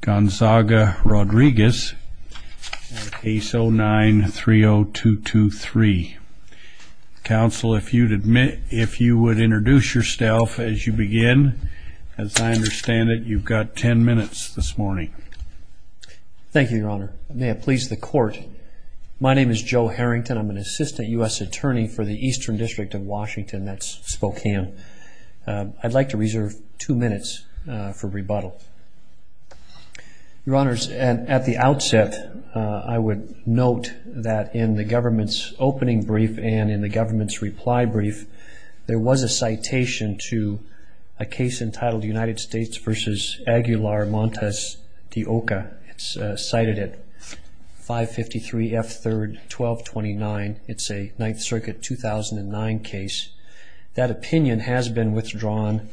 Gonzaga Rodriquez, case 09-30223. Counsel, if you'd admit, if you would introduce yourself as you begin, as I understand it you've got 10 minutes this morning. Thank you, your honor. May it please the court, my name is Joe Harrington. I'm an assistant U.S. attorney for the Eastern District of Washington, that's Spokane. I'd like to reserve two minutes for rebuttal. Your honors, at the outset I would note that in the government's opening brief and in the government's reply brief there was a citation to a case entitled United States v. Aguilar Montes de Oca. It's cited at 553 F. 3rd 1229. It's a Ninth Circuit 2009 case. That opinion has been withdrawn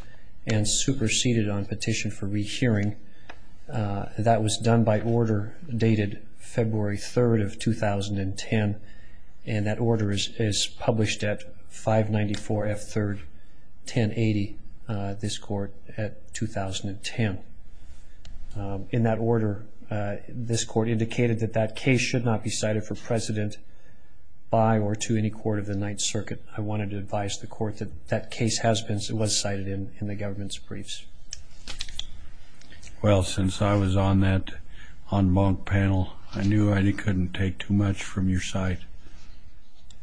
and superseded on petition for rehearing. That was done by order dated February 3rd of 2010 and that order is published at 594 F. 3rd 1080, this court, at 2010. In that order this court indicated that that case should not be cited for precedent by or to any court of the Ninth Circuit. I wanted to advise the court that that case has been, was cited in the government's briefs. Well, since I was on that en banc panel I knew I couldn't take too much from your site.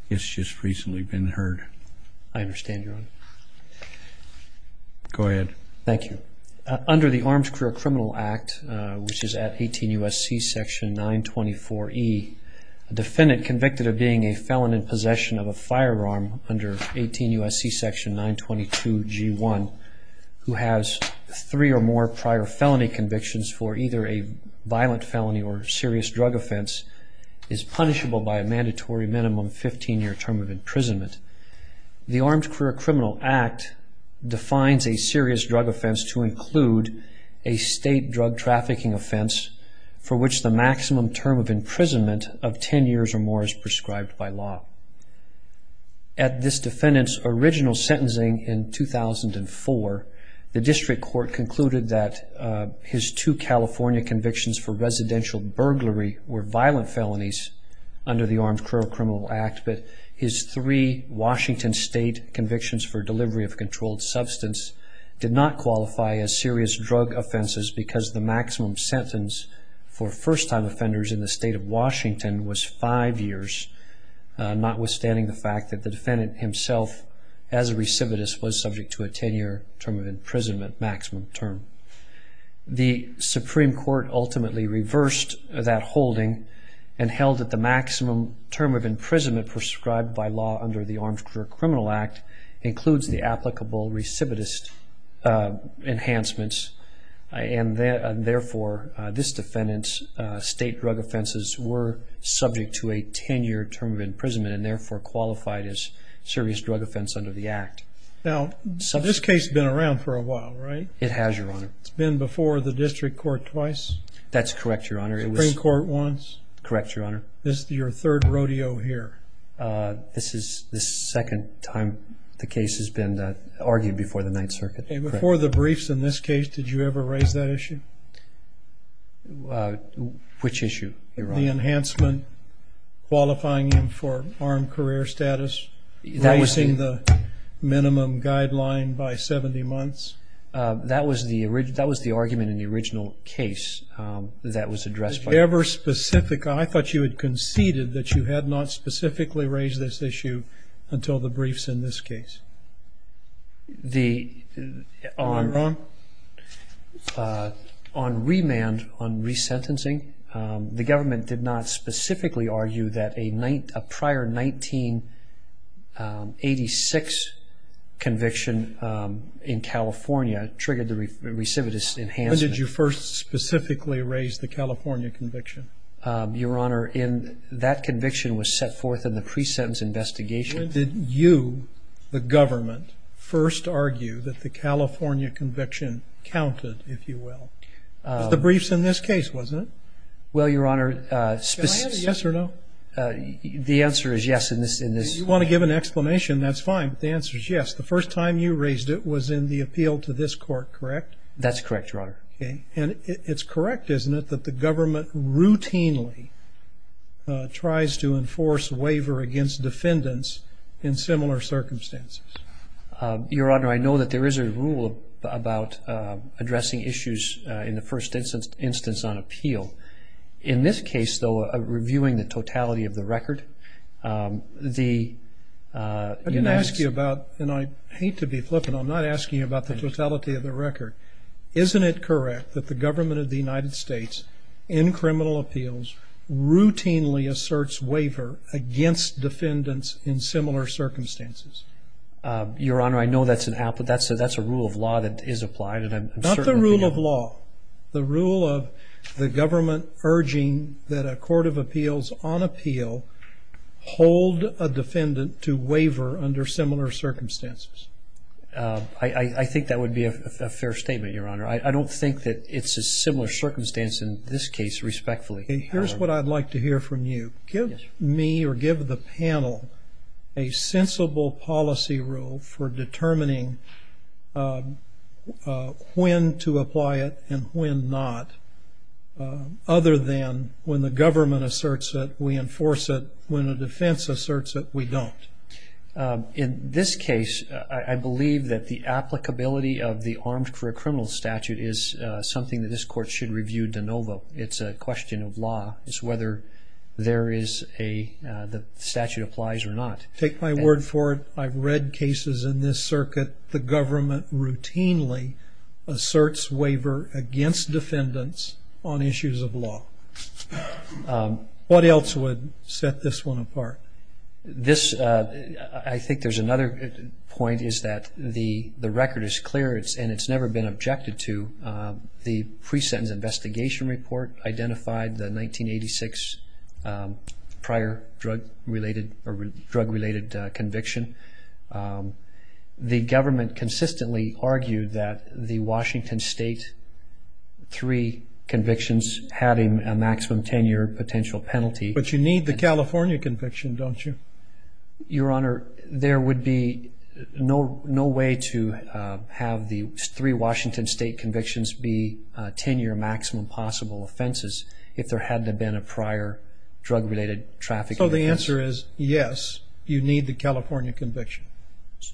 It's just recently been heard. I understand, your honor. Go ahead. Thank you. Under the Arms Career Criminal Act, which is at 18 U.S.C. section 924 E, a defendant convicted of being a felon in possession of a firearm under 18 U.S.C. section 922 G1 who has three or more prior felony convictions for either a violent felony or serious drug offense is punishable by a mandatory minimum 15 year term of imprisonment. The Arms Career Criminal Act defines a serious drug offense to include a state drug trafficking offense for which the firearm is prescribed by law. At this defendant's original sentencing in 2004, the district court concluded that his two California convictions for residential burglary were violent felonies under the Arms Career Criminal Act, but his three Washington state convictions for delivery of controlled substance did not qualify as serious drug offenses because the maximum sentence for first-time offenders, notwithstanding the fact that the defendant himself as a recidivist was subject to a 10-year term of imprisonment maximum term. The Supreme Court ultimately reversed that holding and held that the maximum term of imprisonment prescribed by law under the Arms Career Criminal Act includes the applicable recidivist enhancements, and therefore this defendant's state drug offenses were subject to a 10-year term of imprisonment and therefore qualified as serious drug offense under the Act. Now this case has been around for a while, right? It has, your honor. It's been before the district court twice? That's correct, your honor. The Supreme Court once? Correct, your honor. This is your third rodeo here? This is the second time the case has been argued before the Ninth Circuit. And before the enhancement qualifying him for armed career status, raising the minimum guideline by 70 months? That was the argument in the original case that was addressed. Ever specific? I thought you had conceded that you had not specifically raised this issue until the briefs in this case. On remand, on the government did not specifically argue that a prior 1986 conviction in California triggered the recidivist enhancement. When did you first specifically raise the California conviction? Your honor, that conviction was set forth in the pre-sentence investigation. When did you, the government, first argue that the California Yes or no? The answer is yes. You want to give an explanation, that's fine. The answer is yes. The first time you raised it was in the appeal to this court, correct? That's correct, your honor. And it's correct, isn't it, that the government routinely tries to enforce waiver against defendants in similar circumstances? Your honor, I know that there is a rule about addressing issues in the first instance on In this case, though, reviewing the totality of the record. I didn't ask you about, and I hate to be flippant, I'm not asking you about the totality of the record. Isn't it correct that the government of the United States, in criminal appeals, routinely asserts waiver against defendants in similar circumstances? Your honor, I know that's a rule of law that is urging that a court of appeals on appeal hold a defendant to waiver under similar circumstances. I think that would be a fair statement, your honor. I don't think that it's a similar circumstance in this case, respectfully. Here's what I'd like to hear from you. Give me or give the panel a sensible policy rule for then, when the government asserts it, we enforce it. When a defense asserts it, we don't. In this case, I believe that the applicability of the armed for a criminal statute is something that this court should review de novo. It's a question of law. It's whether there is a, the statute applies or not. Take my word for it. I've read cases in this circuit, the government routinely asserts waiver against defendants on issues of law. What else would set this one apart? This, I think there's another point, is that the record is clear and it's never been objected to. The pre-sentence investigation report identified the 1986 prior drug-related, drug-related conviction. The government consistently argued that the Washington State three convictions had a maximum 10-year potential penalty. But you need the California conviction, don't you? Your honor, there would be no, no way to have the three Washington State convictions be 10-year maximum possible offenses if there hadn't been a prior drug-related traffic. So the answer is yes, you need the California conviction.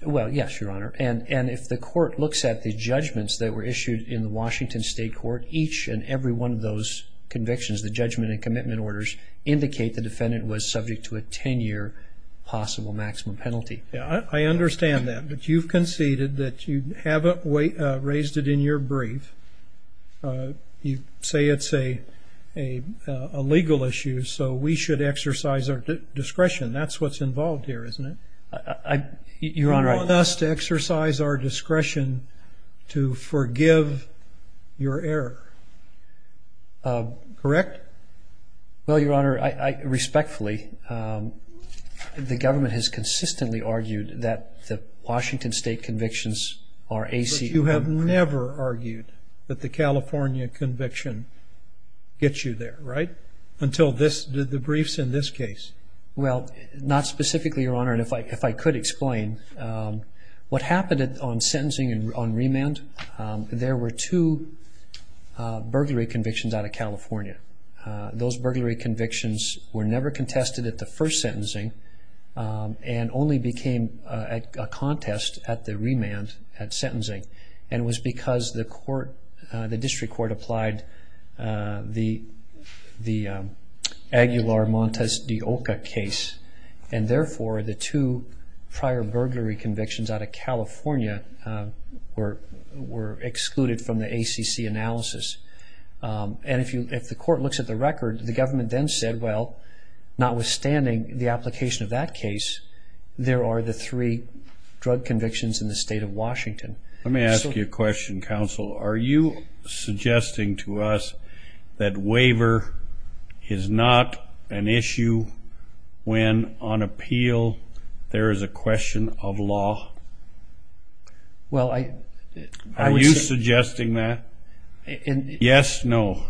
Well, yes, your honor. And if the court looks at the judgments that were issued in the Washington State court, each and every one of those convictions, the judgment and commitment orders, indicate the defendant was subject to a 10-year possible maximum penalty. Yeah, I understand that. But you've conceded that you haven't raised it in your brief. You say it's a legal issue, so we should exercise our discretion. That's what's involved here, isn't it? Your honor, I must exercise our discretion to forgive your error. Correct? Well, your honor, I respectfully, the government has consistently argued that the Washington State convictions are AC... But you have never argued that the California conviction gets you there, right? Until this, the briefs in this case. Well, not What happened on sentencing and on remand, there were two burglary convictions out of California. Those burglary convictions were never contested at the first sentencing and only became a contest at the remand, at sentencing. And it was because the court, the district court applied the Aguilar Montes de Oca case. And therefore, the two prior burglary convictions out of California were excluded from the ACC analysis. And if the court looks at the record, the government then said, well, notwithstanding the application of that case, there are the three drug convictions in the state of Washington. Let me ask you a question, counsel. Are you suggesting to us that waiver is not an issue when on appeal, there is a question of law? Well, I... Are you suggesting that? Yes, no?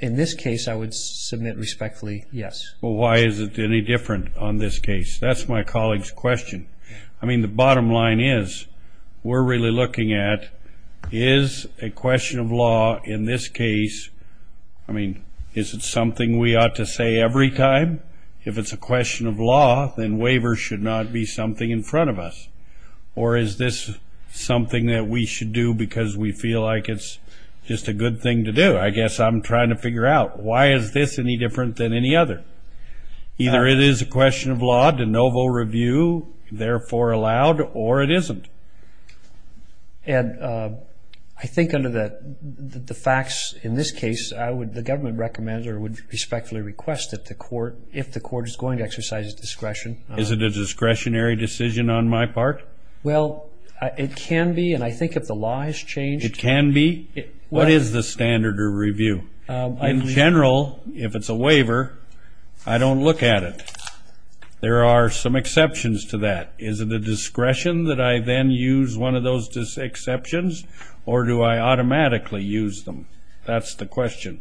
In this case, I would submit respectfully, yes. Well, why is it any different on this case? That's my colleague's question. I mean, the bottom line is, we're really looking at, is a question of law in this case, I mean, is it something we ought to say every time? If it's a question of law, then waiver should not be something in front of us. Or is this something that we should do because we feel like it's just a good thing to do? I guess I'm trying to figure out, why is this any different than any other? Either it is a question of law, de novo review, therefore allowed, or it isn't. And I think under the facts in this case, I would, the government recommend or would respectfully request that the court, if the court is going to exercise its discretion... Is it a discretionary decision on my part? Well, it can be, and I think if the law has changed... It can be? What is the standard of review? In general, if it's a waiver, I don't look at it. There are some exceptions to that. Is it a discretion that I then use one of those exceptions, or do I automatically use them? That's the question.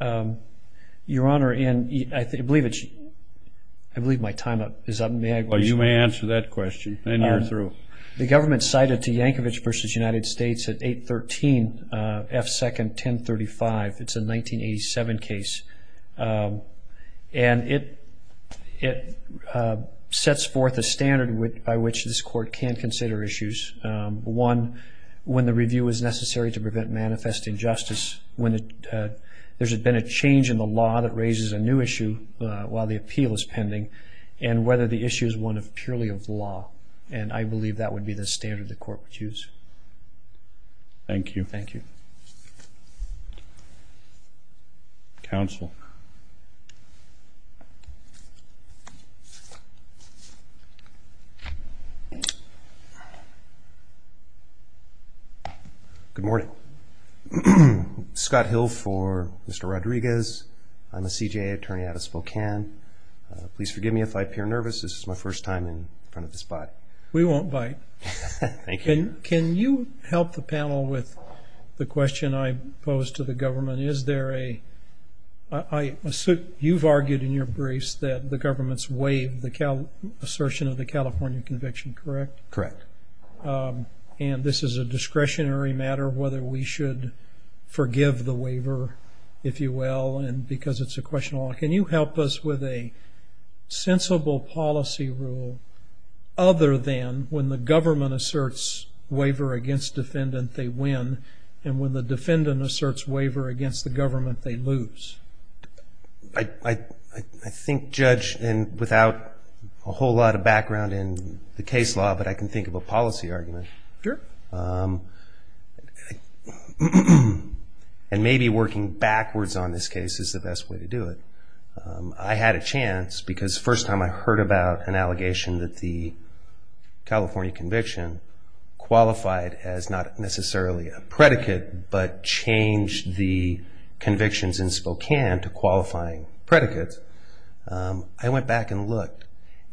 Your Honor, and I believe it's... I believe my time up is up. May I... Well, you may answer that question, then you're through. The government cited to Yankovic versus United States at 813 F2nd 1035. It's a 1987 case. And it sets forth a standard by which this court can consider issues. One, when the review is necessary to prevent manifest injustice, when there's been a change in the law that raises a new issue while the appeal is pending, and whether the issue is one purely of law. And I believe that would be the standard the court would use. Thank you. Thank you. Counsel. Good morning. Scott Hill for Mr. Rodriguez. I'm a CJA attorney out of Spokane. Please forgive me if I appear nervous. This is my first time here. Thank you. Can you help the panel with the question I posed to the government? Is there a... I assume you've argued in your briefs that the government's waived the assertion of the California conviction, correct? Correct. And this is a discretionary matter, whether we should forgive the waiver, if you will, and because it's a question of law. Can you help us with a sensible policy rule other than when the government asserts waiver against defendant, they win, and when the defendant asserts waiver against the government, they lose? I think, Judge, and without a whole lot of background in the case law, but I can think of a policy argument. Sure. And maybe working backwards on this case is the best way to do it. I had a chance because first time I heard about an allegation that the California conviction qualified as not necessarily a predicate but changed the convictions in Spokane to qualifying predicates, I went back and looked.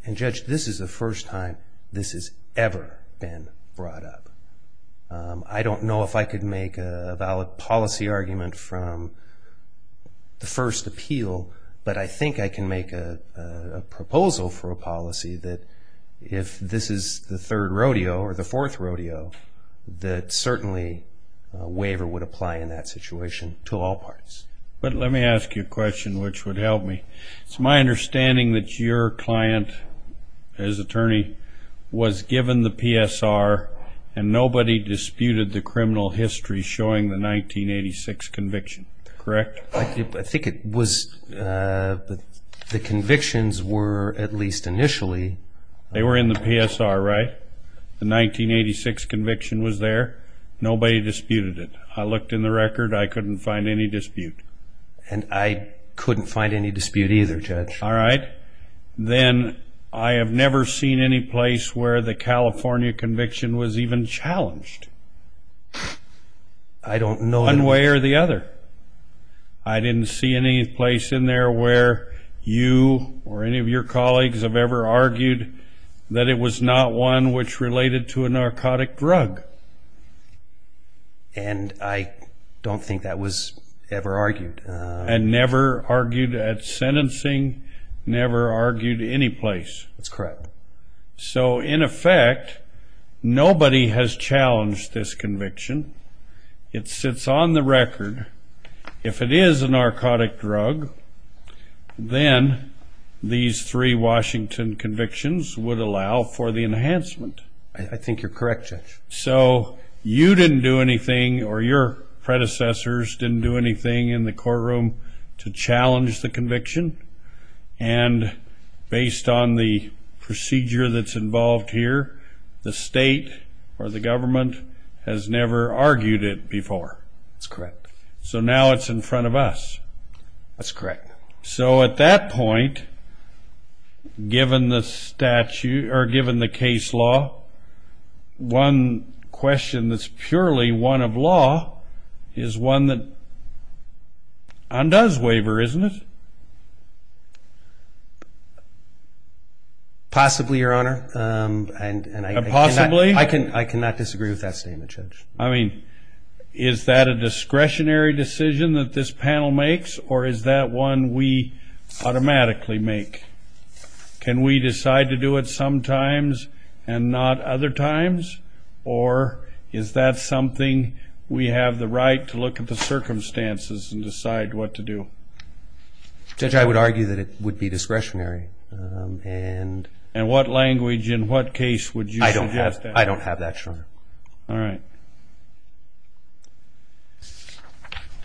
And Judge, this is the first time this has ever been brought up. I don't know if I could make a valid policy argument from the first appeal, but I think I can make a proposal for a third rodeo or the fourth rodeo that certainly waiver would apply in that situation to all parties. But let me ask you a question which would help me. It's my understanding that your client as attorney was given the PSR and nobody disputed the criminal history showing the 1986 conviction, correct? I think it was the convictions were at least initially. They were in the PSR, right? The 1986 conviction was there. Nobody disputed it. I looked in the record. I couldn't find any dispute. And I couldn't find any dispute either, Judge. All right. Then I have never seen any place where the California conviction was even challenged. I don't know... One way or the other. I didn't see any place in there where you or any of your colleagues have ever argued that it was not one which related to a narcotic drug. And I don't think that was ever argued. And never argued at sentencing, never argued any place. That's correct. So in effect, nobody has challenged this conviction. It sits on the record. If it is a narcotic drug, then these three Washington convictions would allow for the enhancement. I think you're correct, Judge. So you didn't do anything or your predecessors didn't do anything in the courtroom to challenge the conviction. And based on the procedure that's involved here, the state or the government has never argued it before. That's correct. So now it's in front of us. That's correct. So at that point, given the statute or given the case law, one question that's purely one of law is one that undoes waiver, isn't it? Possibly, Your Honor. And I... Possibly? I cannot disagree with that statement, Judge. I mean, is that a discretionary decision that this panel makes, or is that one we automatically make? Can we decide to do it sometimes and not other times? Or is that something we have the right to look at the circumstances and decide what to do? Judge, I would argue that it would be discretionary. And... And what language, in what case, would you suggest that? I don't have that, Your Honor. All right.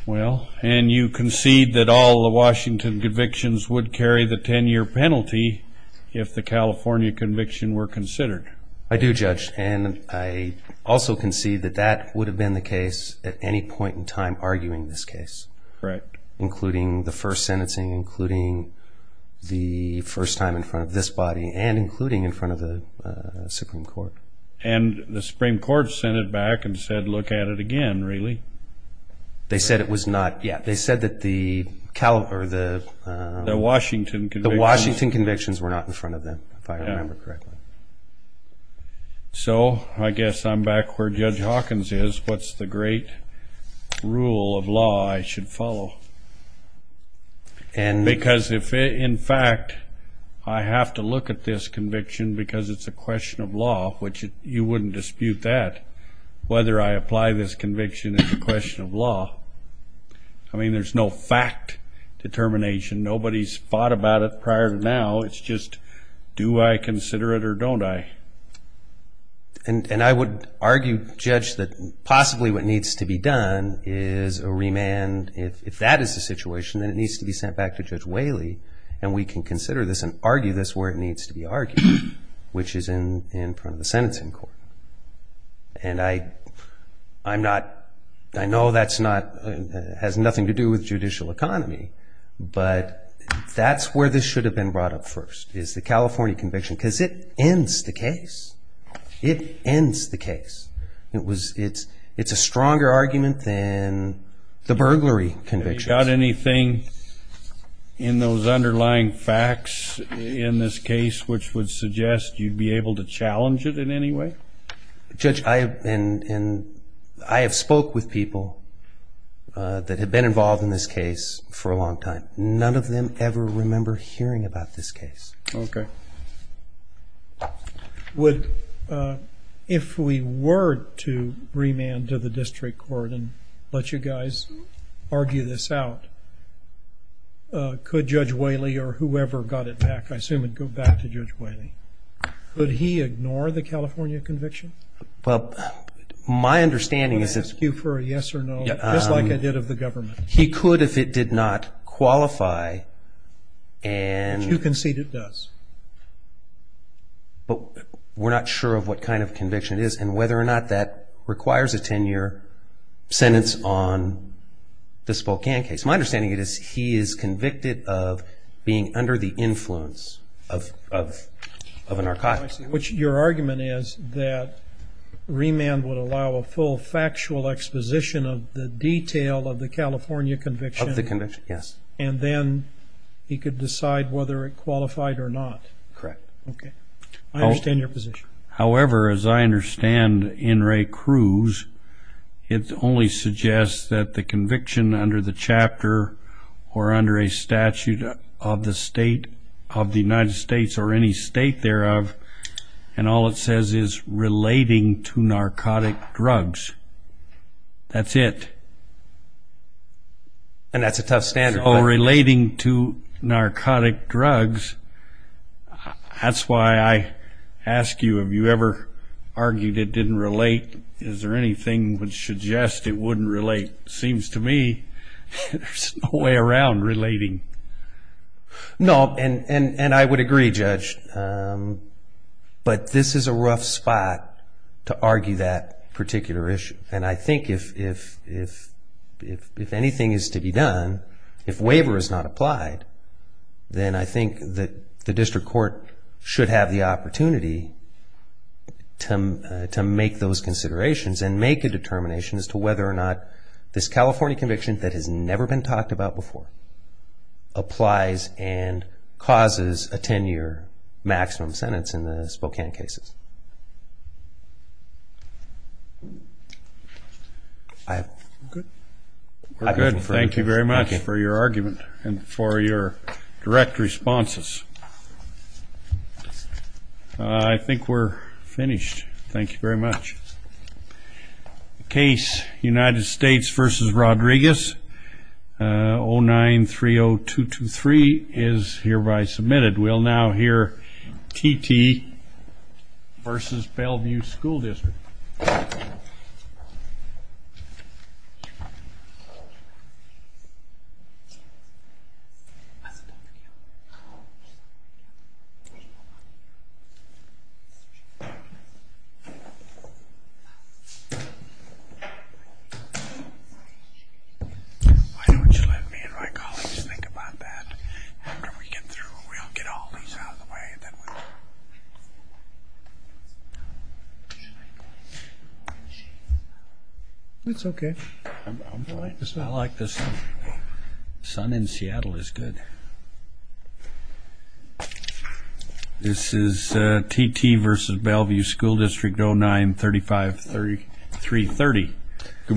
Well, and you concede that all the Washington convictions would carry the 10 year penalty if the California conviction were considered. I do, Judge. And I also concede that that would have been the case at any point in time, arguing this case. Correct. Including the first sentencing, including the first time in front of this body, and including in front of the Supreme Court. And the Supreme Court sent it back and said, look at it again, really. They said it was not... Yeah, they said that the... The Washington convictions... The Washington convictions were not in front of them, if I remember correctly. Yeah. So, I guess I'm back where Judge Hawkins is. What's the great rule of law I should follow? And... Because if, in fact, I have to look at this conviction because it's a question of law, which you wouldn't dispute that, whether I apply this conviction as a question of law. I mean, there's no fact determination. Nobody's thought about it prior to now. It's just, do I consider it or don't I? And I would argue, Judge, that possibly what needs to be done is a remand. If that is the situation, then it needs to be sent back to Judge Whaley, and we can consider this and argue this where it needs to be argued, which is in front of the sentencing court. And I'm not... I know that's not... Has nothing to do with judicial economy, but that's where this should have been brought up first, is the California conviction, because it ends the case. It ends the case. It was... It's a stronger argument than the burglary conviction. Have you got anything in those underlying facts in this case which would suggest you'd be able to challenge it in any way? Judge, I have been... And I have spoke with people that have been involved in this case for a long time. None of them ever remember hearing about this case. Okay. Would... If we were to remand to the district court and let you guys argue this out, could Judge Whaley or whoever got it back, I assume it'd go back to Judge Whaley, could he ignore the California conviction? Well, my understanding is that... I'm gonna ask you for a yes or no, just like I did of the government. He could if it did not qualify and... But you concede it does. But we're not sure of what kind of conviction it is and whether or not that requires a 10 year sentence on the Spokane case. My understanding is he is convicted of being under the influence of an archivist. Which your argument is that remand would allow a full factual exposition of the detail of the California conviction. Of the conviction, yes. And then he could decide whether it qualified or not. Correct. Okay. I understand your position. However, as I understand In re Cruz, it only suggests that the conviction under the chapter or under a statute of the United States or any state thereof, and all it says is relating to narcotic drugs. That's it. And that's a tough standard. Oh, relating to narcotic drugs. That's why I ask you, have you ever argued it didn't relate? Is there anything which suggests it wouldn't relate? Seems to me there's no way around relating. No, and I would agree, Judge. But this is a rough spot to argue that particular issue. And I think if anything is to be done, if waiver is not applied, then I think that the district court should have the opportunity to make those considerations and make a determination as to whether or not this California conviction that has never been talked about before applies and causes a 10-year maximum sentence in the Spokane cases. I'm good. We're good. Thank you very much for your argument and for your direct responses. I think we're finished. Thank you very much. The case United States versus Rodriguez, 0930223 is hereby submitted. We'll now hear TT versus Bellevue School District. Why don't you let me and my colleagues think about that after we get through? We'll get all these out of the way, and then we'll... It's okay. I'm delighted. I like this. The sun in Seattle is good. This is TT versus Bellevue School District 0935330. Good morning.